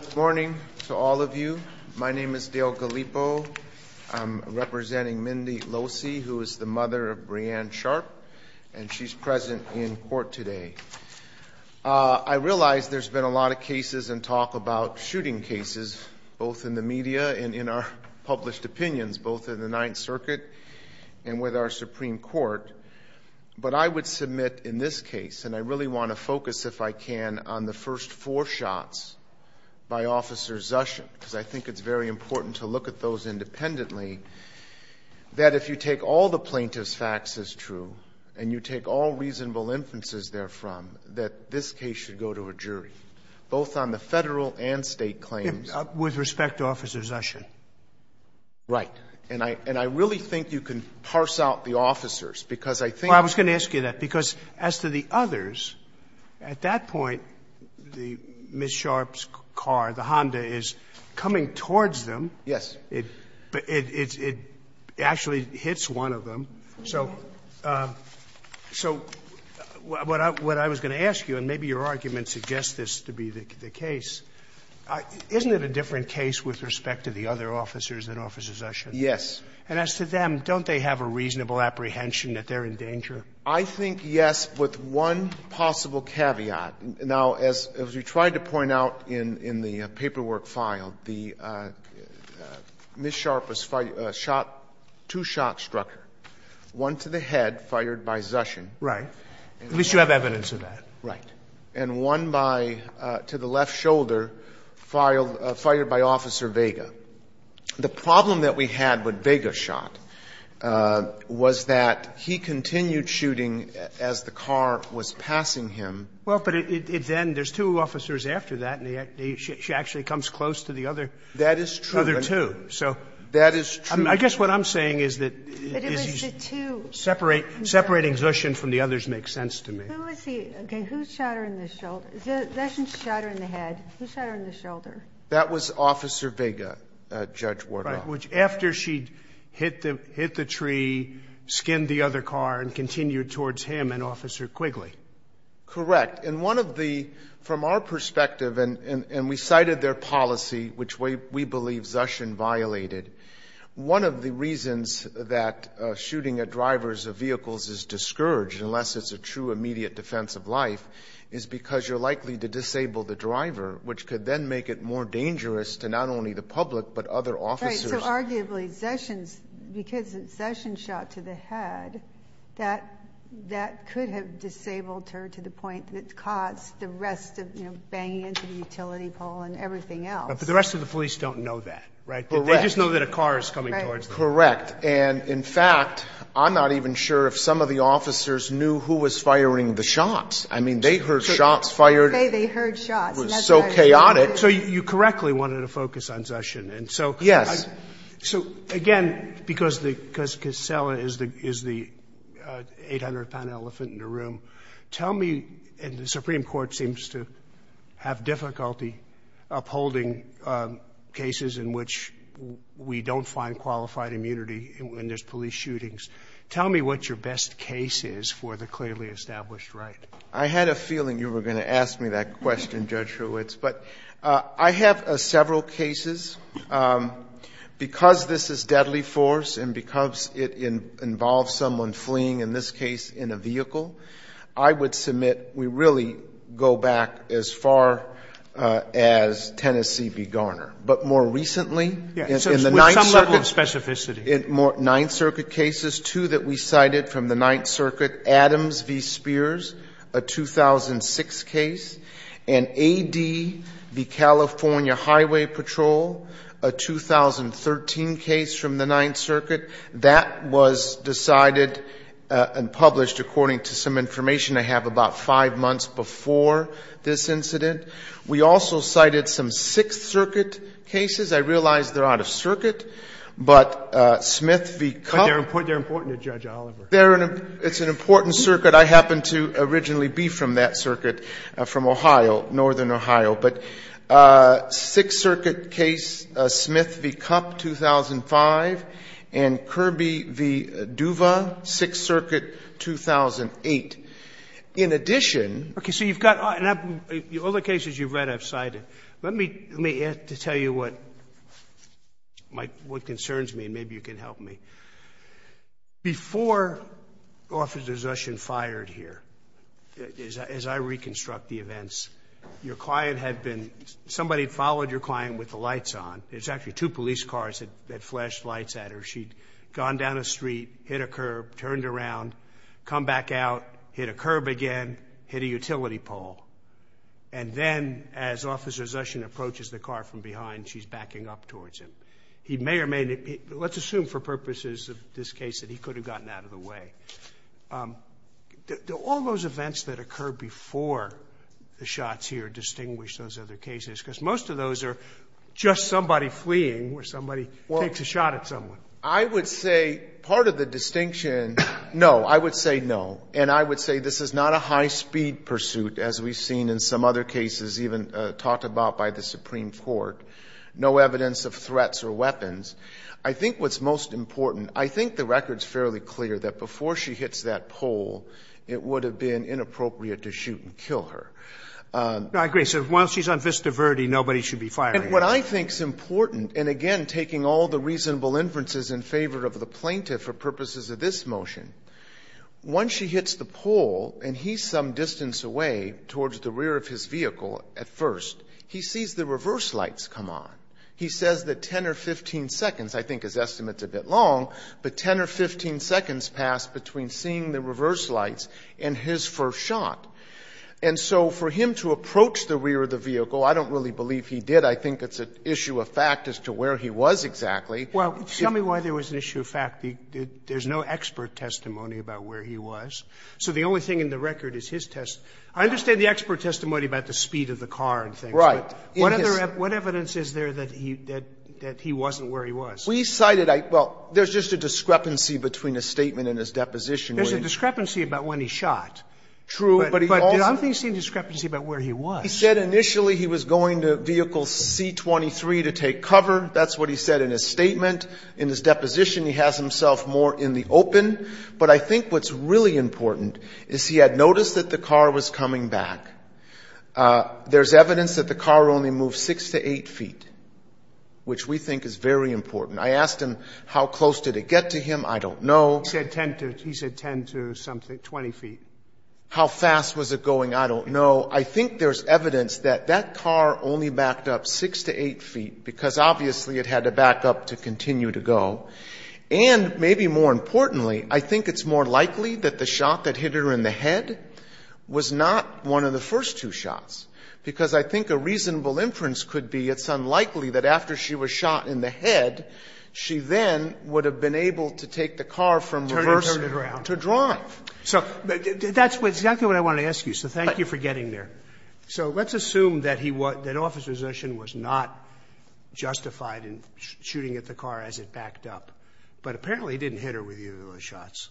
Good morning to all of you. My name is Dale Gallipo. I'm representing Mindy Losee, who is the mother of Breanne Sharp, and she's present in court today. I realize there's been a lot of cases and talk about shooting cases, both in the media and in our published opinions, both in the Ninth Circuit and with our Supreme Court. But I would submit in this case, and I really want to focus, if I can, on the first four shots by Officer Zushin, because I think it's very important to look at those independently, that if you take all the plaintiff's facts as true, and you take all reasonable inferences therefrom, that this case should go to a jury, both on the federal and state claims. With respect to Officer Zushin? Right. And I really think you can parse out the officers, because I think that's the case. Well, I was going to ask you that, because as to the others, at that point, Ms. Sharp's car, the Honda, is coming towards them. Yes. It actually hits one of them. So what I was going to ask you, and maybe your argument suggests this to be the case, isn't it a different case with respect to the other officers than Officer Zushin? Yes. And as to them, don't they have a reasonable apprehension that they're in danger? I think, yes, with one possible caveat. Now, as you tried to point out in the paperwork filed, the Ms. Sharp was shot, two-shot struck her, one to the head, fired by Zushin. Right. At least you have evidence of that. Right. And one by to the left shoulder, fired by Officer Vega. The problem that we had with Vega's shot was that he continued shooting as the car was passing him. Well, but it then, there's two officers after that, and she actually comes close to the other two. That is true. So I guess what I'm saying is that separating Zushin from the others makes sense to me. Who is he? Okay, who shot her in the shoulder? Zushin shot her in the head. Who shot her in the shoulder? That was Officer Vega, Judge Wardoff. Right, which after she hit the tree, skinned the other car, and continued towards him and Officer Quigley. Correct. And one of the, from our perspective, and we cited their policy, which we believe Zushin violated, one of the reasons that shooting at drivers of vehicles is discouraged, unless it's a true immediate defense of life, is because you're likely to disable the driver, which could then make it more dangerous to not only the public, but other officers. Right, so arguably, Zushin's, because Zushin shot to the head, that could have disabled her to the point that it caused the rest of, you know, banging into the utility pole and everything else. But the rest of the police don't know that, right? Correct. They just know that a car is coming towards them. Correct. And in fact, I'm not even sure if some of the officers knew who was firing the shots. I mean, they heard shots fired. They heard shots. It was so chaotic. So you correctly wanted to focus on Zushin. And so, again, because Casella is the 800-pound elephant in the room, tell me, and the Supreme Court seems to have difficulty upholding cases in which we don't find qualified immunity when there's police shootings, tell me what your best case is for the clearly established right. I had a feeling you were going to ask me that question, Judge Hurwitz. But I have several cases. Because this is deadly force and because it involves someone fleeing, in this case, in a vehicle, I would submit we really go back as far as Tennessee v. Garner. But more recently, in the Ninth Circuit, in Ninth Circuit cases, two that we cited from the Ninth Circuit, Adams v. Spears, a 2006 case, and A.D. v. California Highway Patrol, a 2013 case from the Ninth Circuit, that was decided and published according to some information I have about five months before this incident. We also cited some Sixth Circuit cases. I realize they're out of circuit. But Smith v. Cupp. But they're important to Judge Oliver. It's an important circuit. I happen to originally be from that circuit, from Ohio, northern Ohio. But Sixth Circuit case, Smith v. Cupp, 2005. And Kirby v. Duva, Sixth Circuit, 2008. In addition. Okay. So you've got all the cases you've read, I've cited. Let me tell you what concerns me and maybe you can help me. Before Officer Zushin fired here, as I reconstruct the events, your client had been, somebody followed your client with the lights on. There's actually two police cars that flashed lights at her. She'd gone down a street, hit a curb, turned around, come back out, hit a curb again, hit a utility pole. And then as Officer Zushin approaches the car from behind, she's backing up towards him. He may or may not, let's assume for purposes of this case that he could have gotten out of the way. Do all those events that occurred before the shots here distinguish those other cases? Because most of those are just somebody fleeing or somebody takes a shot at someone. I would say part of the distinction, no. I would say no. And I would say this is not a high-speed pursuit, as we've seen in some other cases even talked about by the Supreme Court. No evidence of threats or weapons. I think what's most important, I think the record's fairly clear that before she hits that pole, it would have been inappropriate to shoot and kill her. I agree. So while she's on Vista Verde, nobody should be firing at her. And what I think's important, and again, taking all the reasonable inferences in favor of the plaintiff for purposes of this motion. Once she hits the pole and he's some distance away towards the rear of his vehicle at first, he sees the reverse lights come on. He says that 10 or 15 seconds, I think his estimate's a bit long, but 10 or 15 seconds pass between seeing the reverse lights and his first shot. And so for him to approach the rear of the vehicle, I don't really believe he did. I think it's an issue of fact as to where he was exactly. Sotomayor Well, tell me why there was an issue of fact. There's no expert testimony about where he was. So the only thing in the record is his test. I understand the expert testimony about the speed of the car and things. But what evidence is there that he wasn't where he was? Carvin We cited, well, there's just a discrepancy between his statement and his deposition. Sotomayor There's a discrepancy about when he shot. Carvin True, but he also He said initially he was going to vehicle C23 to take cover. That's what he said in his statement. In his deposition, he has himself more in the open. But I think what's really important is he had noticed that the car was coming back. There's evidence that the car only moved 6 to 8 feet, which we think is very important. I asked him how close did it get to him. I don't know. Sotomayor He said 10 to something, 20 feet. Carvin How fast was it going? I don't know. So I think there's evidence that that car only backed up 6 to 8 feet, because obviously it had to back up to continue to go. And maybe more importantly, I think it's more likely that the shot that hit her in the head was not one of the first two shots, because I think a reasonable inference could be it's unlikely that after she was shot in the head, she then would have been able to take the car from reverse to drive. So that's exactly what I want to ask you. So thank you for getting there. So let's assume that he was an officer. Zushin was not justified in shooting at the car as it backed up. But apparently he didn't hit her with either of those shots.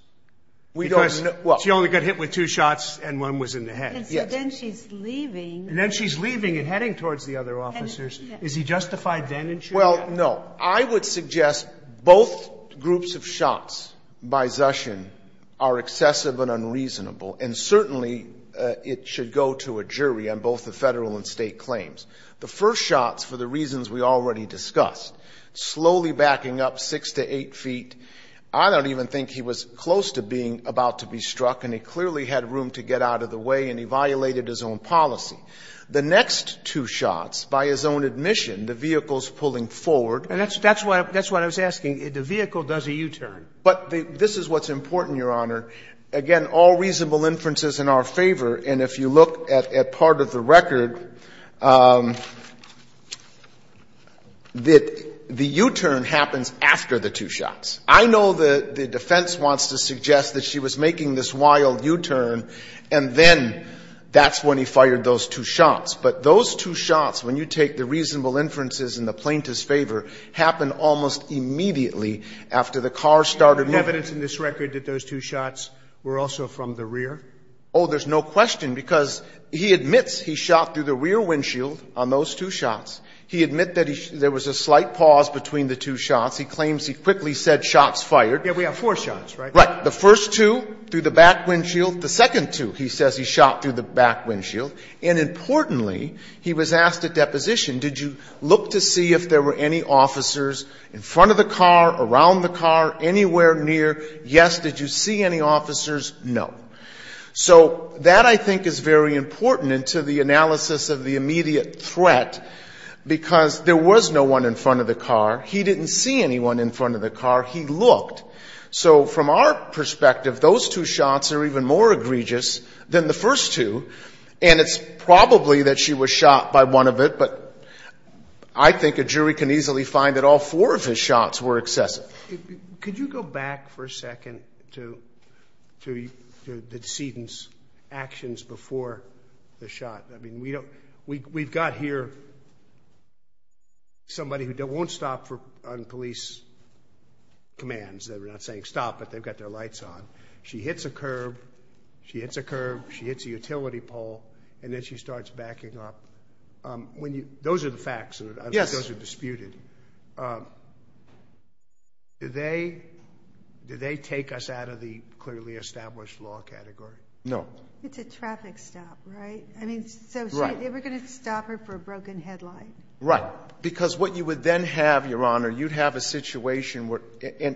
We don't know. Well, she only got hit with two shots and one was in the head. And then she's leaving and heading towards the other officers. Is he justified then? Well, no, I would suggest both groups of shots by Zushin are excessive and unreasonable. And certainly it should go to a jury on both the Federal and State claims. The first shots, for the reasons we already discussed, slowly backing up 6 to 8 feet, I don't even think he was close to being about to be struck and he clearly had room to get out of the way and he violated his own policy. The next two shots, by his own admission, the vehicle's pulling forward. And that's what I was asking. The vehicle does a U-turn. But this is what's important, Your Honor. Again, all reasonable inferences in our favor. And if you look at part of the record, the U-turn happens after the two shots. I know the defense wants to suggest that she was making this wild U-turn and then that's when he fired those two shots. But those two shots, when you take the reasonable inferences in the plaintiff's favor, happened almost immediately after the car started moving. And is there evidence in this record that those two shots were also from the rear? Oh, there's no question, because he admits he shot through the rear windshield on those two shots. He admits that there was a slight pause between the two shots. He claims he quickly said shots fired. Yeah, we have four shots, right? Right. The first two through the back windshield. The second two, he says he shot through the back windshield. And importantly, he was asked at deposition, did you look to see if there were any officers in front of the car, around the car, anywhere near? Yes. Did you see any officers? No. So that, I think, is very important to the analysis of the immediate threat, because there was no one in front of the car. He didn't see anyone in front of the car. He looked. So from our perspective, those two shots are even more egregious than the first two. And it's probably that she was shot by one of it. But I think a jury can easily find that all four of his shots were excessive. Could you go back for a second to the decedent's actions before the shot? I mean, we've got here somebody who won't stop on police commands. They're not saying stop, but they've got their lights on. She hits a curb. She hits a curb. She hits a utility pole. And then she starts backing up. Those are the facts. I think those are disputed. Did they take us out of the clearly established law category? No. It's a traffic stop, right? I mean, so they were going to stop her for a broken headlight? Right. Because what you would then have, Your Honor, you'd have a situation where,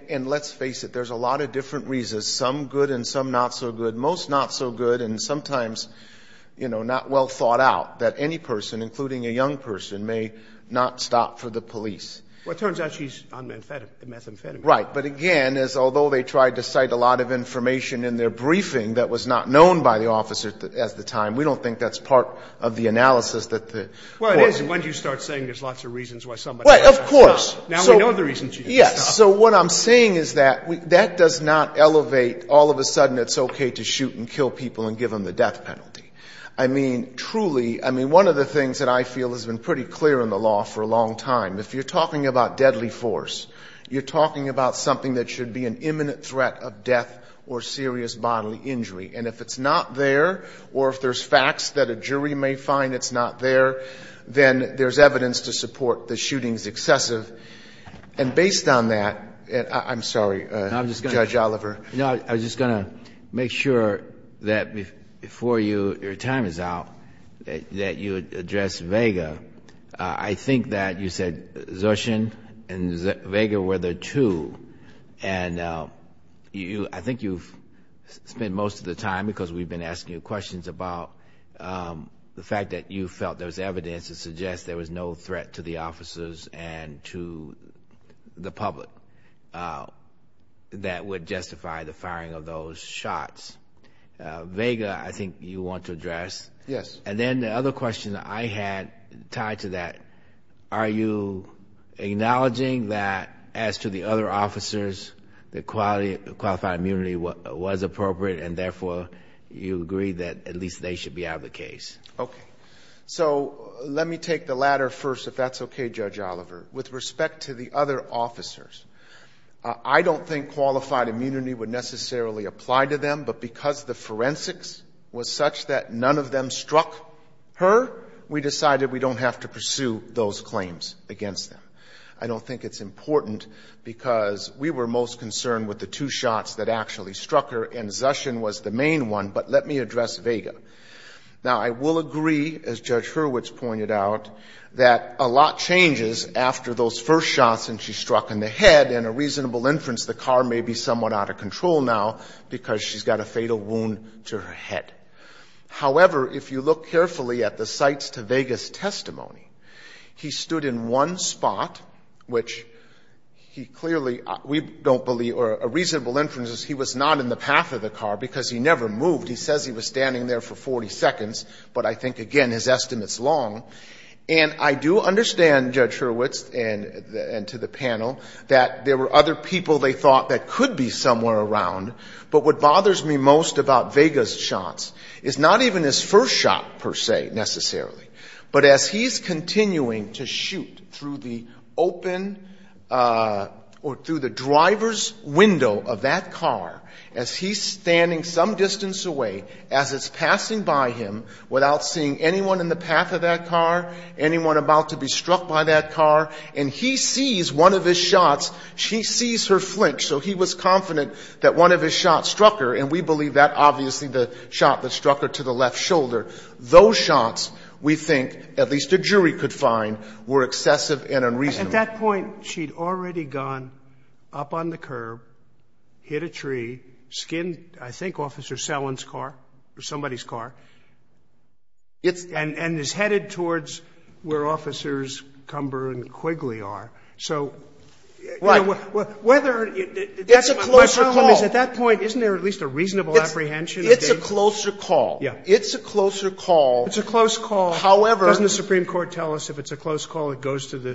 and let's face it, there's a lot of different reasons, some good and some not so good, most not so good, and sometimes, you know, not well thought out, that any person, including a young person, may not stop for the police. Well, it turns out she's on methamphetamine. Right. But again, as although they tried to cite a lot of information in their briefing that was not known by the officer at the time, we don't think that's part of the analysis that the Court has. Well, it is. And once you start saying there's lots of reasons why somebody has to stop, now we know the reasons she has to stop. Yes. So what I'm saying is that that does not elevate all of a sudden it's okay to shoot and kill people and give them the death penalty. I mean, truly, I mean, one of the things that I feel has been pretty clear in the law for a long time, if you're talking about deadly force, you're talking about something that should be an imminent threat of death or serious bodily injury. And if it's not there, or if there's facts that a jury may find it's not there, then there's evidence to support the shooting's excessive. And based on that, I'm sorry, Judge Oliver. No, I was just going to make sure that before your time is out, that you address Vega. I think that you said Zoshen and Vega were there too. And I think you've spent most of the time, because we've been asking you questions about the fact that you felt there was evidence to suggest there was no threat to the officers and to the public that would justify the firing of those shots. Vega, I think you want to address. Yes. And then the other question that I had tied to that, are you acknowledging that as to the other officers, the qualified immunity was appropriate and therefore, you agree that at least they should be out of the case? Okay. So let me take the latter first. If that's okay, Judge Oliver. With respect to the other officers, I don't think qualified immunity would necessarily apply to them, but because the forensics was such that none of them struck her, we decided we don't have to pursue those claims against them. I don't think it's important because we were most concerned with the two shots that actually struck her and Zoshen was the main one, but let me address Vega. Now, I will agree, as Judge Hurwitz pointed out, that a lot changes after those first shots and she struck in the head, and a reasonable inference the car may be somewhat out of control now because she's got a fatal wound to her head. However, if you look carefully at the cites to Vega's testimony, he stood in one spot, which he clearly, we don't believe, or a reasonable inference is he was not on the path of the car because he never moved. He says he was standing there for 40 seconds, but I think, again, his estimates long, and I do understand Judge Hurwitz and to the panel that there were other people they thought that could be somewhere around, but what bothers me most about Vega's shots is not even his first shot per se, necessarily, but as he's continuing to shoot through the open or through the driver's window of that car as he's standing some distance away, as it's passing by him without seeing anyone in the path of that car, anyone about to be struck by that car, and he sees one of his shots, she sees her flinch, so he was confident that one of his shots struck her, and we believe that, obviously, the shot that struck her to the left shoulder. Those shots, we think, at least a jury could find, were excessive and unreasonable. At that point, she'd already gone up on the curb, hit a tree, skinned, I think, Officer Selland's car or somebody's car, and is headed towards where Officers Cumber and Quigley are. So, you know, whether it's a closer call, at that point, isn't there at least a reasonable apprehension? It's a closer call. Yeah. It's a closer call. It's a close call. However, doesn't the Supreme Court tell us if it's a close call, it goes to the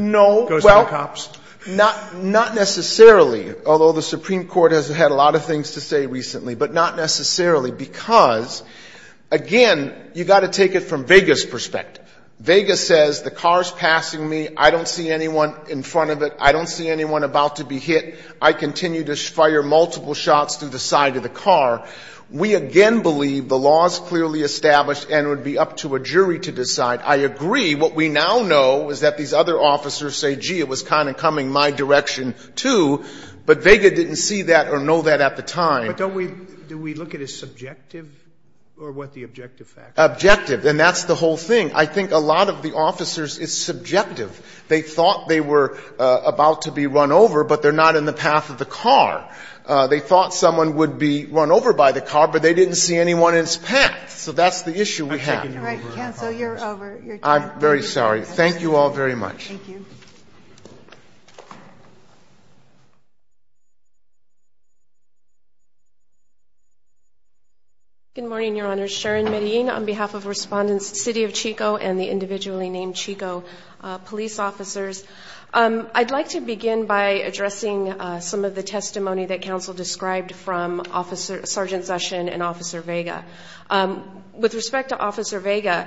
cops? No, well, not necessarily, although the Supreme Court has had a lot of things to say recently, but not necessarily, because, again, you've got to take it from Vega's perspective. Vega says the car's passing me, I don't see anyone in front of it, I don't see anyone about to be hit, I continue to fire multiple shots through the side of the car. We, again, believe the law's clearly established and it would be up to a jury to decide. I agree. What we now know is that these other officers say, gee, it was kind of coming my direction, too, but Vega didn't see that or know that at the time. But don't we do we look at it as subjective, or what the objective facts are? Objective, and that's the whole thing. I think a lot of the officers, it's subjective. They thought they were about to be run over, but they're not in the path of the car. They thought someone would be run over by the car, but they didn't see anyone in its path. So that's the issue we have. All right, counsel, you're over. I'm very sorry. Thank you all very much. Thank you. Good morning, Your Honor. Sharon Medellin on behalf of Respondent's City of Chico and the individually named Chico police officers. I'd like to begin by addressing some of the testimony that counsel described from Officer Sergeant Session and Officer Vega. With respect to Officer Vega,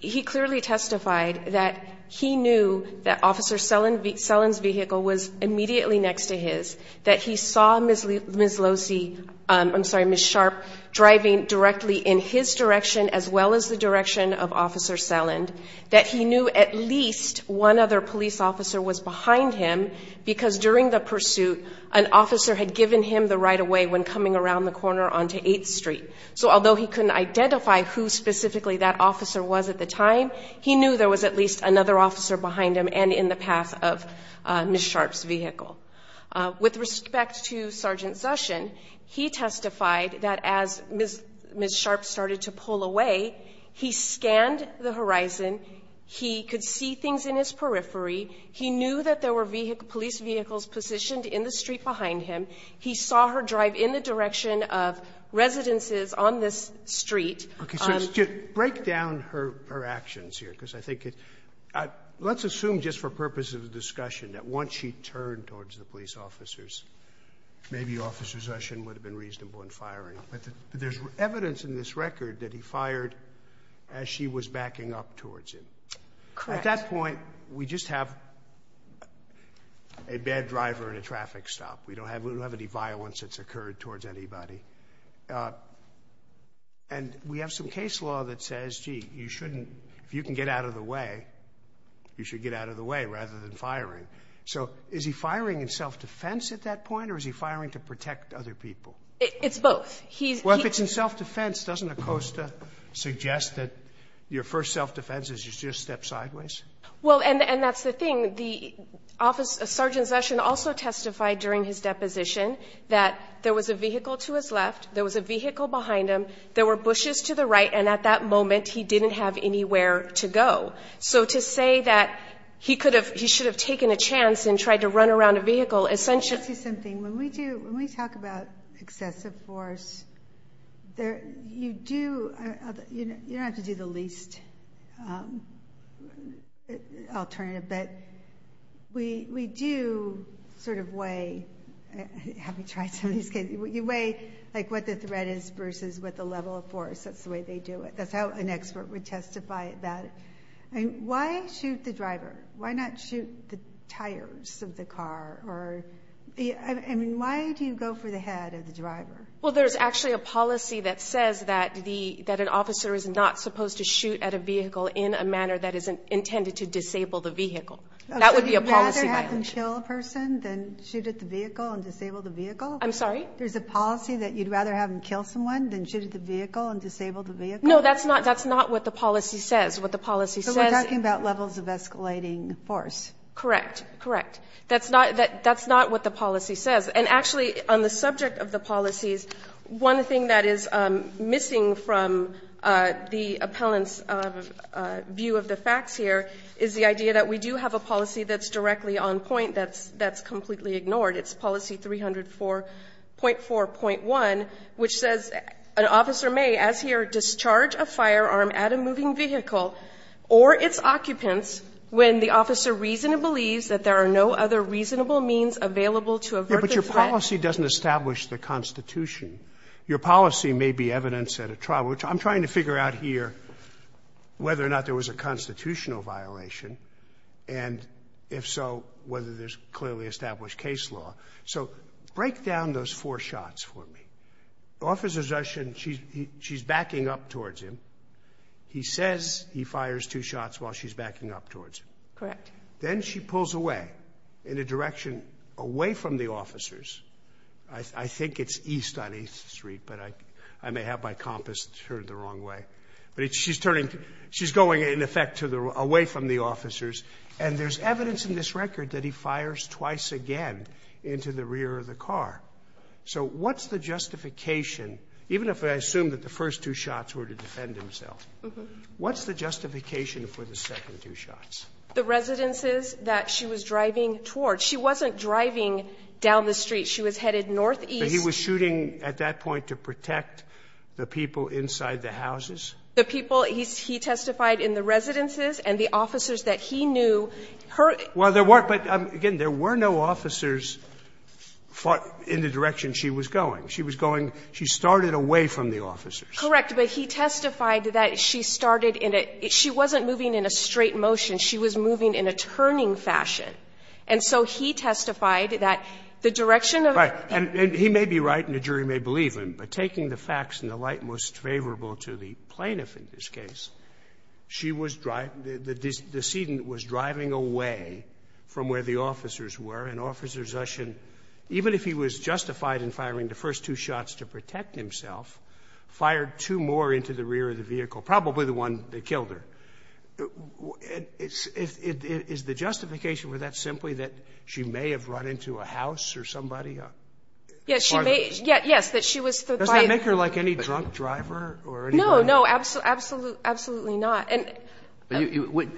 he clearly testified that he knew that Officer Selland's vehicle was immediately next to his, that he saw Ms. Losey, I'm sorry, Ms. Sharp driving directly in his direction as well as the direction of Officer Selland, that he knew at least one other police officer was behind him because during the pursuit, an officer had given him the right-of-way when coming around the corner onto 8th Street. So although he couldn't identify who specifically that officer was at the time, he knew there was at least another officer behind him and in the path of Ms. Sharp's vehicle. With respect to Sergeant Session, he testified that as Ms. Sharp started to pull away, he scanned the horizon. He could see things in his periphery. He knew that there were police vehicles positioned in the street behind him. He saw her drive in the direction of residences on this street. Okay. So to break down her actions here, because I think it, let's assume just for purpose of the discussion that once she turned towards the police officers, maybe Officer Session would have been reasonable in firing, but there's evidence in this record that he fired as she was backing up towards him. Correct. At that point, we just have a bad driver and a traffic stop. We don't have any violence that's occurred towards anybody. And we have some case law that says, gee, you shouldn't, if you can get out of the way, you should get out of the way rather than firing. So is he firing in self-defense at that point or is he firing to protect other people? It's both. Well, if it's in self-defense, doesn't ACOSTA suggest that your first self-defense is you just step sideways? Well, and that's the thing. The officer, Sergeant Session also testified during his deposition that there was a vehicle to his left. There was a vehicle behind him. There were bushes to the right. And at that moment, he didn't have anywhere to go. So to say that he could have, he should have taken a chance and tried to run around a vehicle, essentially... Let me ask you something. When we do, when we talk about excessive force, there, you do, you don't have to do the least alternative, but we do sort of weigh, have you tried some of these cases, you weigh like what the threat is versus what the level of force, that's the way they do it. That's how an expert would testify about it. And why shoot the driver? Why not shoot the tires of the car? Or, I mean, why do you go for the head of the driver? Well, there's actually a policy that says that the, that an officer is not supposed to shoot at a vehicle in a manner that is intended to disable the vehicle. That would be a policy violation. So you'd rather have him kill a person than shoot at the vehicle and disable the vehicle? I'm sorry? There's a policy that you'd rather have him kill someone than shoot at the vehicle and disable the vehicle? No, that's not, that's not what the policy says. What the policy says... So we're talking about levels of escalating force. Correct. Correct. That's not, that's not what the policy says. And actually, on the subject of the policies, one thing that is missing from the appellant's view of the facts here is the idea that we do have a policy that's directly on point that's, that's completely ignored. It's policy 304.4.1, which says an officer may, as here, discharge a firearm at a moving vehicle or its occupants when the officer reasonably believes that there are no other reasonable means available to avert the threat. Yeah, but your policy doesn't establish the constitution. Your policy may be evidence at a trial, which I'm trying to figure out here whether or not there was a constitutional violation, and if so, whether there's clearly established case law. So break down those four shots for me. Officer's Russian, she's backing up towards him. He says he fires two shots while she's backing up towards him. Correct. Then she pulls away. In a direction away from the officers. I think it's east on 8th Street, but I, I may have my compass turned the wrong way, but she's turning, she's going in effect to the, away from the officers. And there's evidence in this record that he fires twice again into the rear of the car. So what's the justification? Even if I assume that the first two shots were to defend himself, what's the justification for the second two shots? The residences that she was driving towards. She wasn't driving down the street. She was headed northeast. He was shooting at that point to protect the people inside the houses. The people he's, he testified in the residences and the officers that he knew her. Well, there weren't, but again, there were no officers fought in the direction she was going. She was going, she started away from the officers. Correct. But he testified that she started in a, she wasn't moving in a straight motion. She was moving in a turning fashion. And so he testified that the direction of. Right. And he may be right and the jury may believe him, but taking the facts in the light most favorable to the plaintiff in this case, she was driving, the decedent was driving away from where the officers were and Officer Zushin, even if he was justified in firing the first two shots to protect himself, fired two more into the rear of the vehicle, probably the one that killed her. Is the justification for that simply that she may have run into a house or somebody? Yes, she may. Yes, that she was. Does that make her like any drunk driver? No, no, absolutely. Absolutely not. And I'm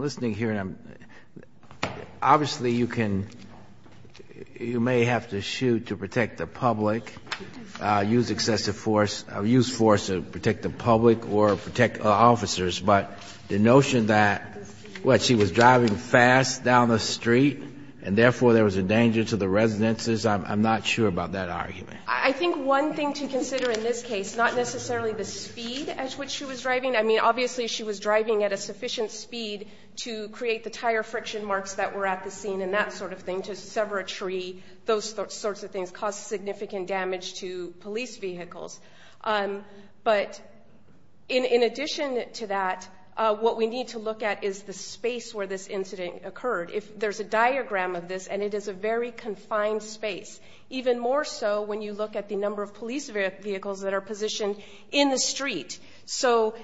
listening here and I'm, obviously you can, you may have to shoot to protect the public, use excessive force, use force to protect the public or protect officers. But the notion that what she was driving fast down the street and therefore there was a danger to the residences. I'm not sure about that argument. I think one thing to consider in this case, not necessarily the speed at which she was driving. I mean, obviously she was driving at a sufficient speed to create the tire friction marks that were at the scene and that sort of thing to sever a tree, those sorts of things cause significant damage to police vehicles. But in addition to that, what we need to look at is the space where this incident occurred. If there's a diagram of this and it is a very confined space, even more so when you look at the number of police vehicles that are positioned in the street. So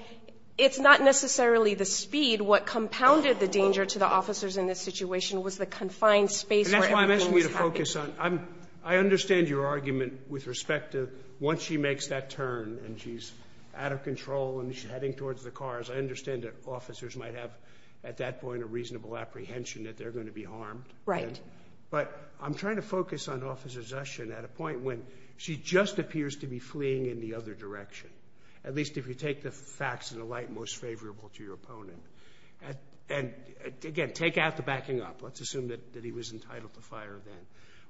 it's not necessarily the speed what compounded the danger to the officers in this situation was the confined space. That's why I'm asking you to focus on, I'm, I understand your argument with respect to once she makes that turn and she's out of control and she's heading towards the cars. I understand that officers might have at that point a reasonable apprehension that they're going to be harmed. Right. But I'm trying to focus on Officer Zushin at a point when she just appears to be fleeing in the other direction. At least if you take the facts in a light most favorable to your opponent. And again, take out the backing up. Let's assume that he was entitled to fire then.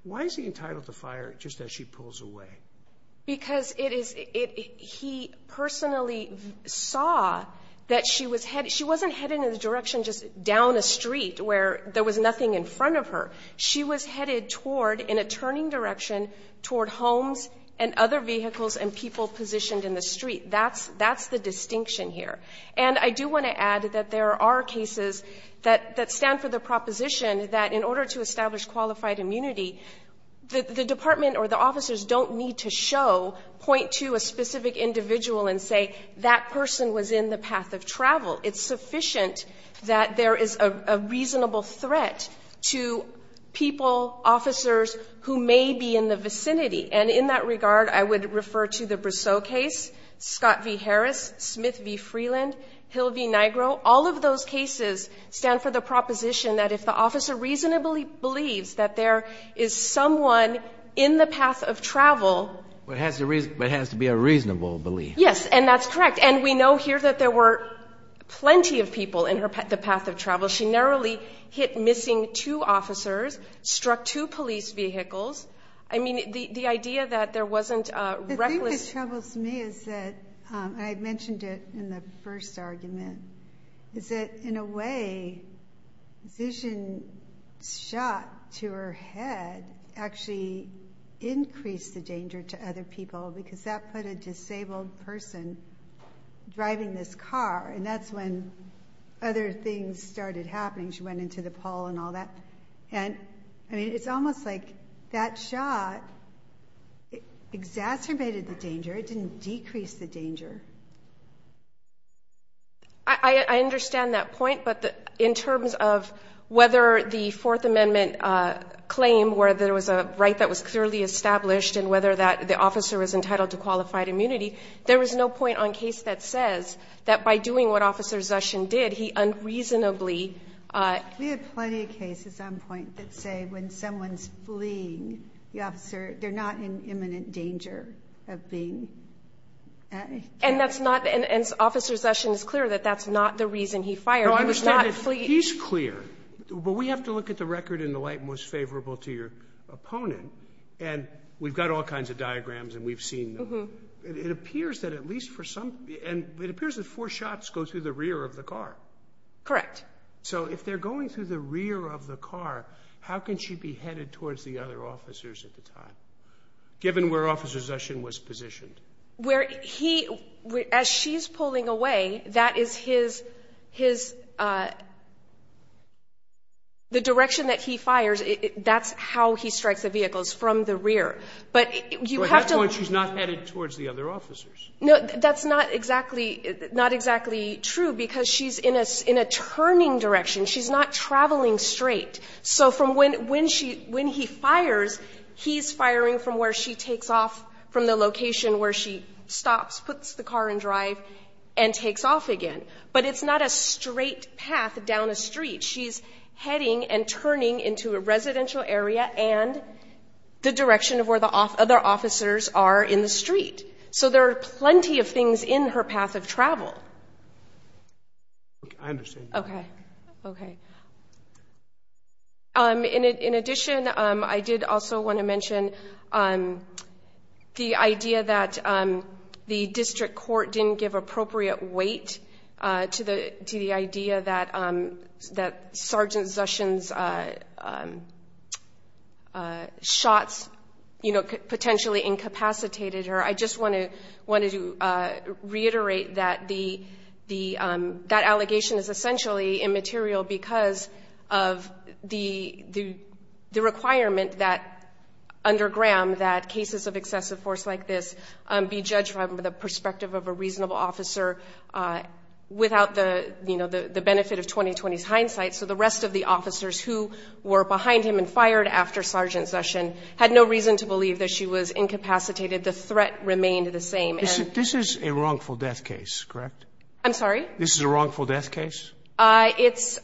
Why is he entitled to fire just as she pulls away? Because it is, he personally saw that she was headed. She wasn't headed in the direction just down the street where there was nothing in front of her. She was headed toward in a turning direction toward homes and other vehicles and people positioned in the street. That's, that's the distinction here. And I do want to add that there are cases that, that stand for the proposition that in order to establish qualified immunity, the department or the officers don't need to show, point to a specific individual and say that person was in the path of travel. It's sufficient that there is a reasonable threat to people, officers who may be in the vicinity. And in that regard, I would refer to the Briseau case, Scott v. Holland, Hill v. Nigro. All of those cases stand for the proposition that if the officer reasonably believes that there is someone in the path of travel. But it has to be a reasonable belief. Yes, and that's correct. And we know here that there were plenty of people in the path of travel. She narrowly hit missing two officers, struck two police vehicles. I mean, the idea that there wasn't a reckless. Troubles me is that I had mentioned it in the first argument is that in a way vision shot to her head actually increased the danger to other people because that put a disabled person driving this car and that's when other things started happening. She went into the pole and all that. And I mean, it's almost like that shot exacerbated the danger. It didn't decrease the danger. I understand that point. But in terms of whether the Fourth Amendment claim where there was a right that was clearly established and whether that the officer was entitled to qualified immunity, there was no point on case that says that by doing what officers did, he unreasonably. We have plenty of cases on point that say when someone's fleeing the officer, they're not in imminent danger of being. And that's not an officer session is clear that that's not the reason he fired. I was not flee. He's clear, but we have to look at the record in the light most favorable to your opponent. And we've got all kinds of diagrams and we've seen it appears that at least for some and it appears that four shots go through the rear of the car. Correct. So if they're going through the rear of the car, how can she be headed towards the other officers at the time given where officers session was positioned where he as she's pulling away. That is his his. The direction that he fires it. That's how he strikes the vehicles from the rear. But you have to watch. She's not headed towards the other officers. No, that's not exactly not exactly true because she's in us in a turning direction. She's not traveling straight. So from when when she when he fires, he's firing from where she takes off from the location where she stops puts the car and drive and takes off again, but it's not a straight path down the street. She's heading and turning into a residential area and the direction of where the off other officers are in the street. So there are plenty of things in her path of travel. I understand. Okay. Okay. In addition, I did also want to mention the idea that the district court didn't give appropriate weight to the to the idea that that Sergeant Sessions shots, you know, potentially incapacitated her. I just want to want to reiterate that the the that allegation is essentially immaterial because of the the requirement that under Graham that cases of excessive force like this be judged from the perspective of a reasonable officer without the you know, the benefit of 2020 hindsight. So the rest of the officers who were behind him and fired after Sergeant Session had no reason to believe that she was incapacitated. The threat remained the same and this is a wrongful death case, correct? I'm sorry. This is a wrongful death case. I it's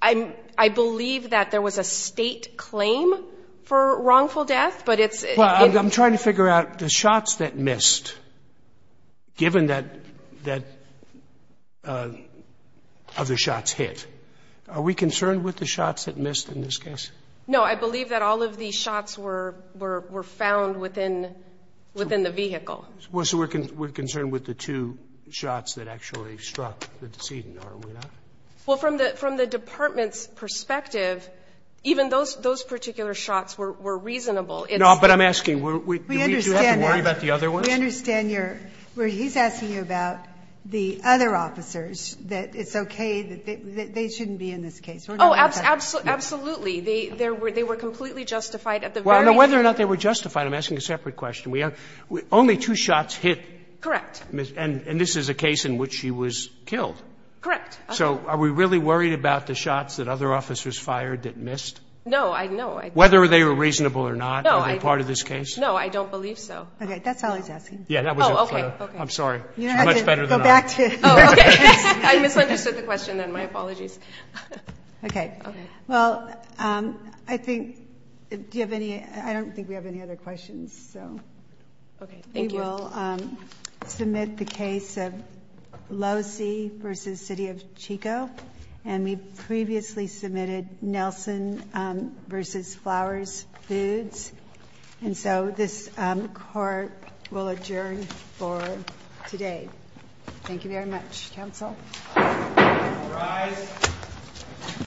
I'm I believe that there was a state claim for wrongful death, but it's I'm trying to figure out the shots that missed given that that other shots hit are we concerned with the shots that missed in this case? No, I believe that all of these shots were were found within within the vehicle was working. We're concerned with the two shots that actually struck the decedent. Are we not? Well from the from the department's perspective, even those those particular shots were reasonable. It's not but I'm asking where we understand worry about the other one. We understand your where he's asking you about the other officers that it's okay that they shouldn't be in this case. Oh, absolutely. Absolutely. They there were they were completely justified at the very whether or not they were justified. I'm asking a separate question. We have only two shots hit correct miss and and this is a case in which she was killed. Correct. So are we really worried about the shots that other officers fired that missed? No, I know whether they were reasonable or not. No, I'm part of this case. No, I don't believe so. Okay, that's all he's asking. Yeah, that was okay. I'm sorry. You know, it's better than that. I misunderstood the question and my apologies. Okay. Okay. Well, I think do you have any I don't think we have any other questions. So, okay. Thank you. We'll submit the case of low C versus city of Chico and we previously submitted Nelson versus flowers foods. And so this court will adjourn for today. Thank you very much council. Thank you.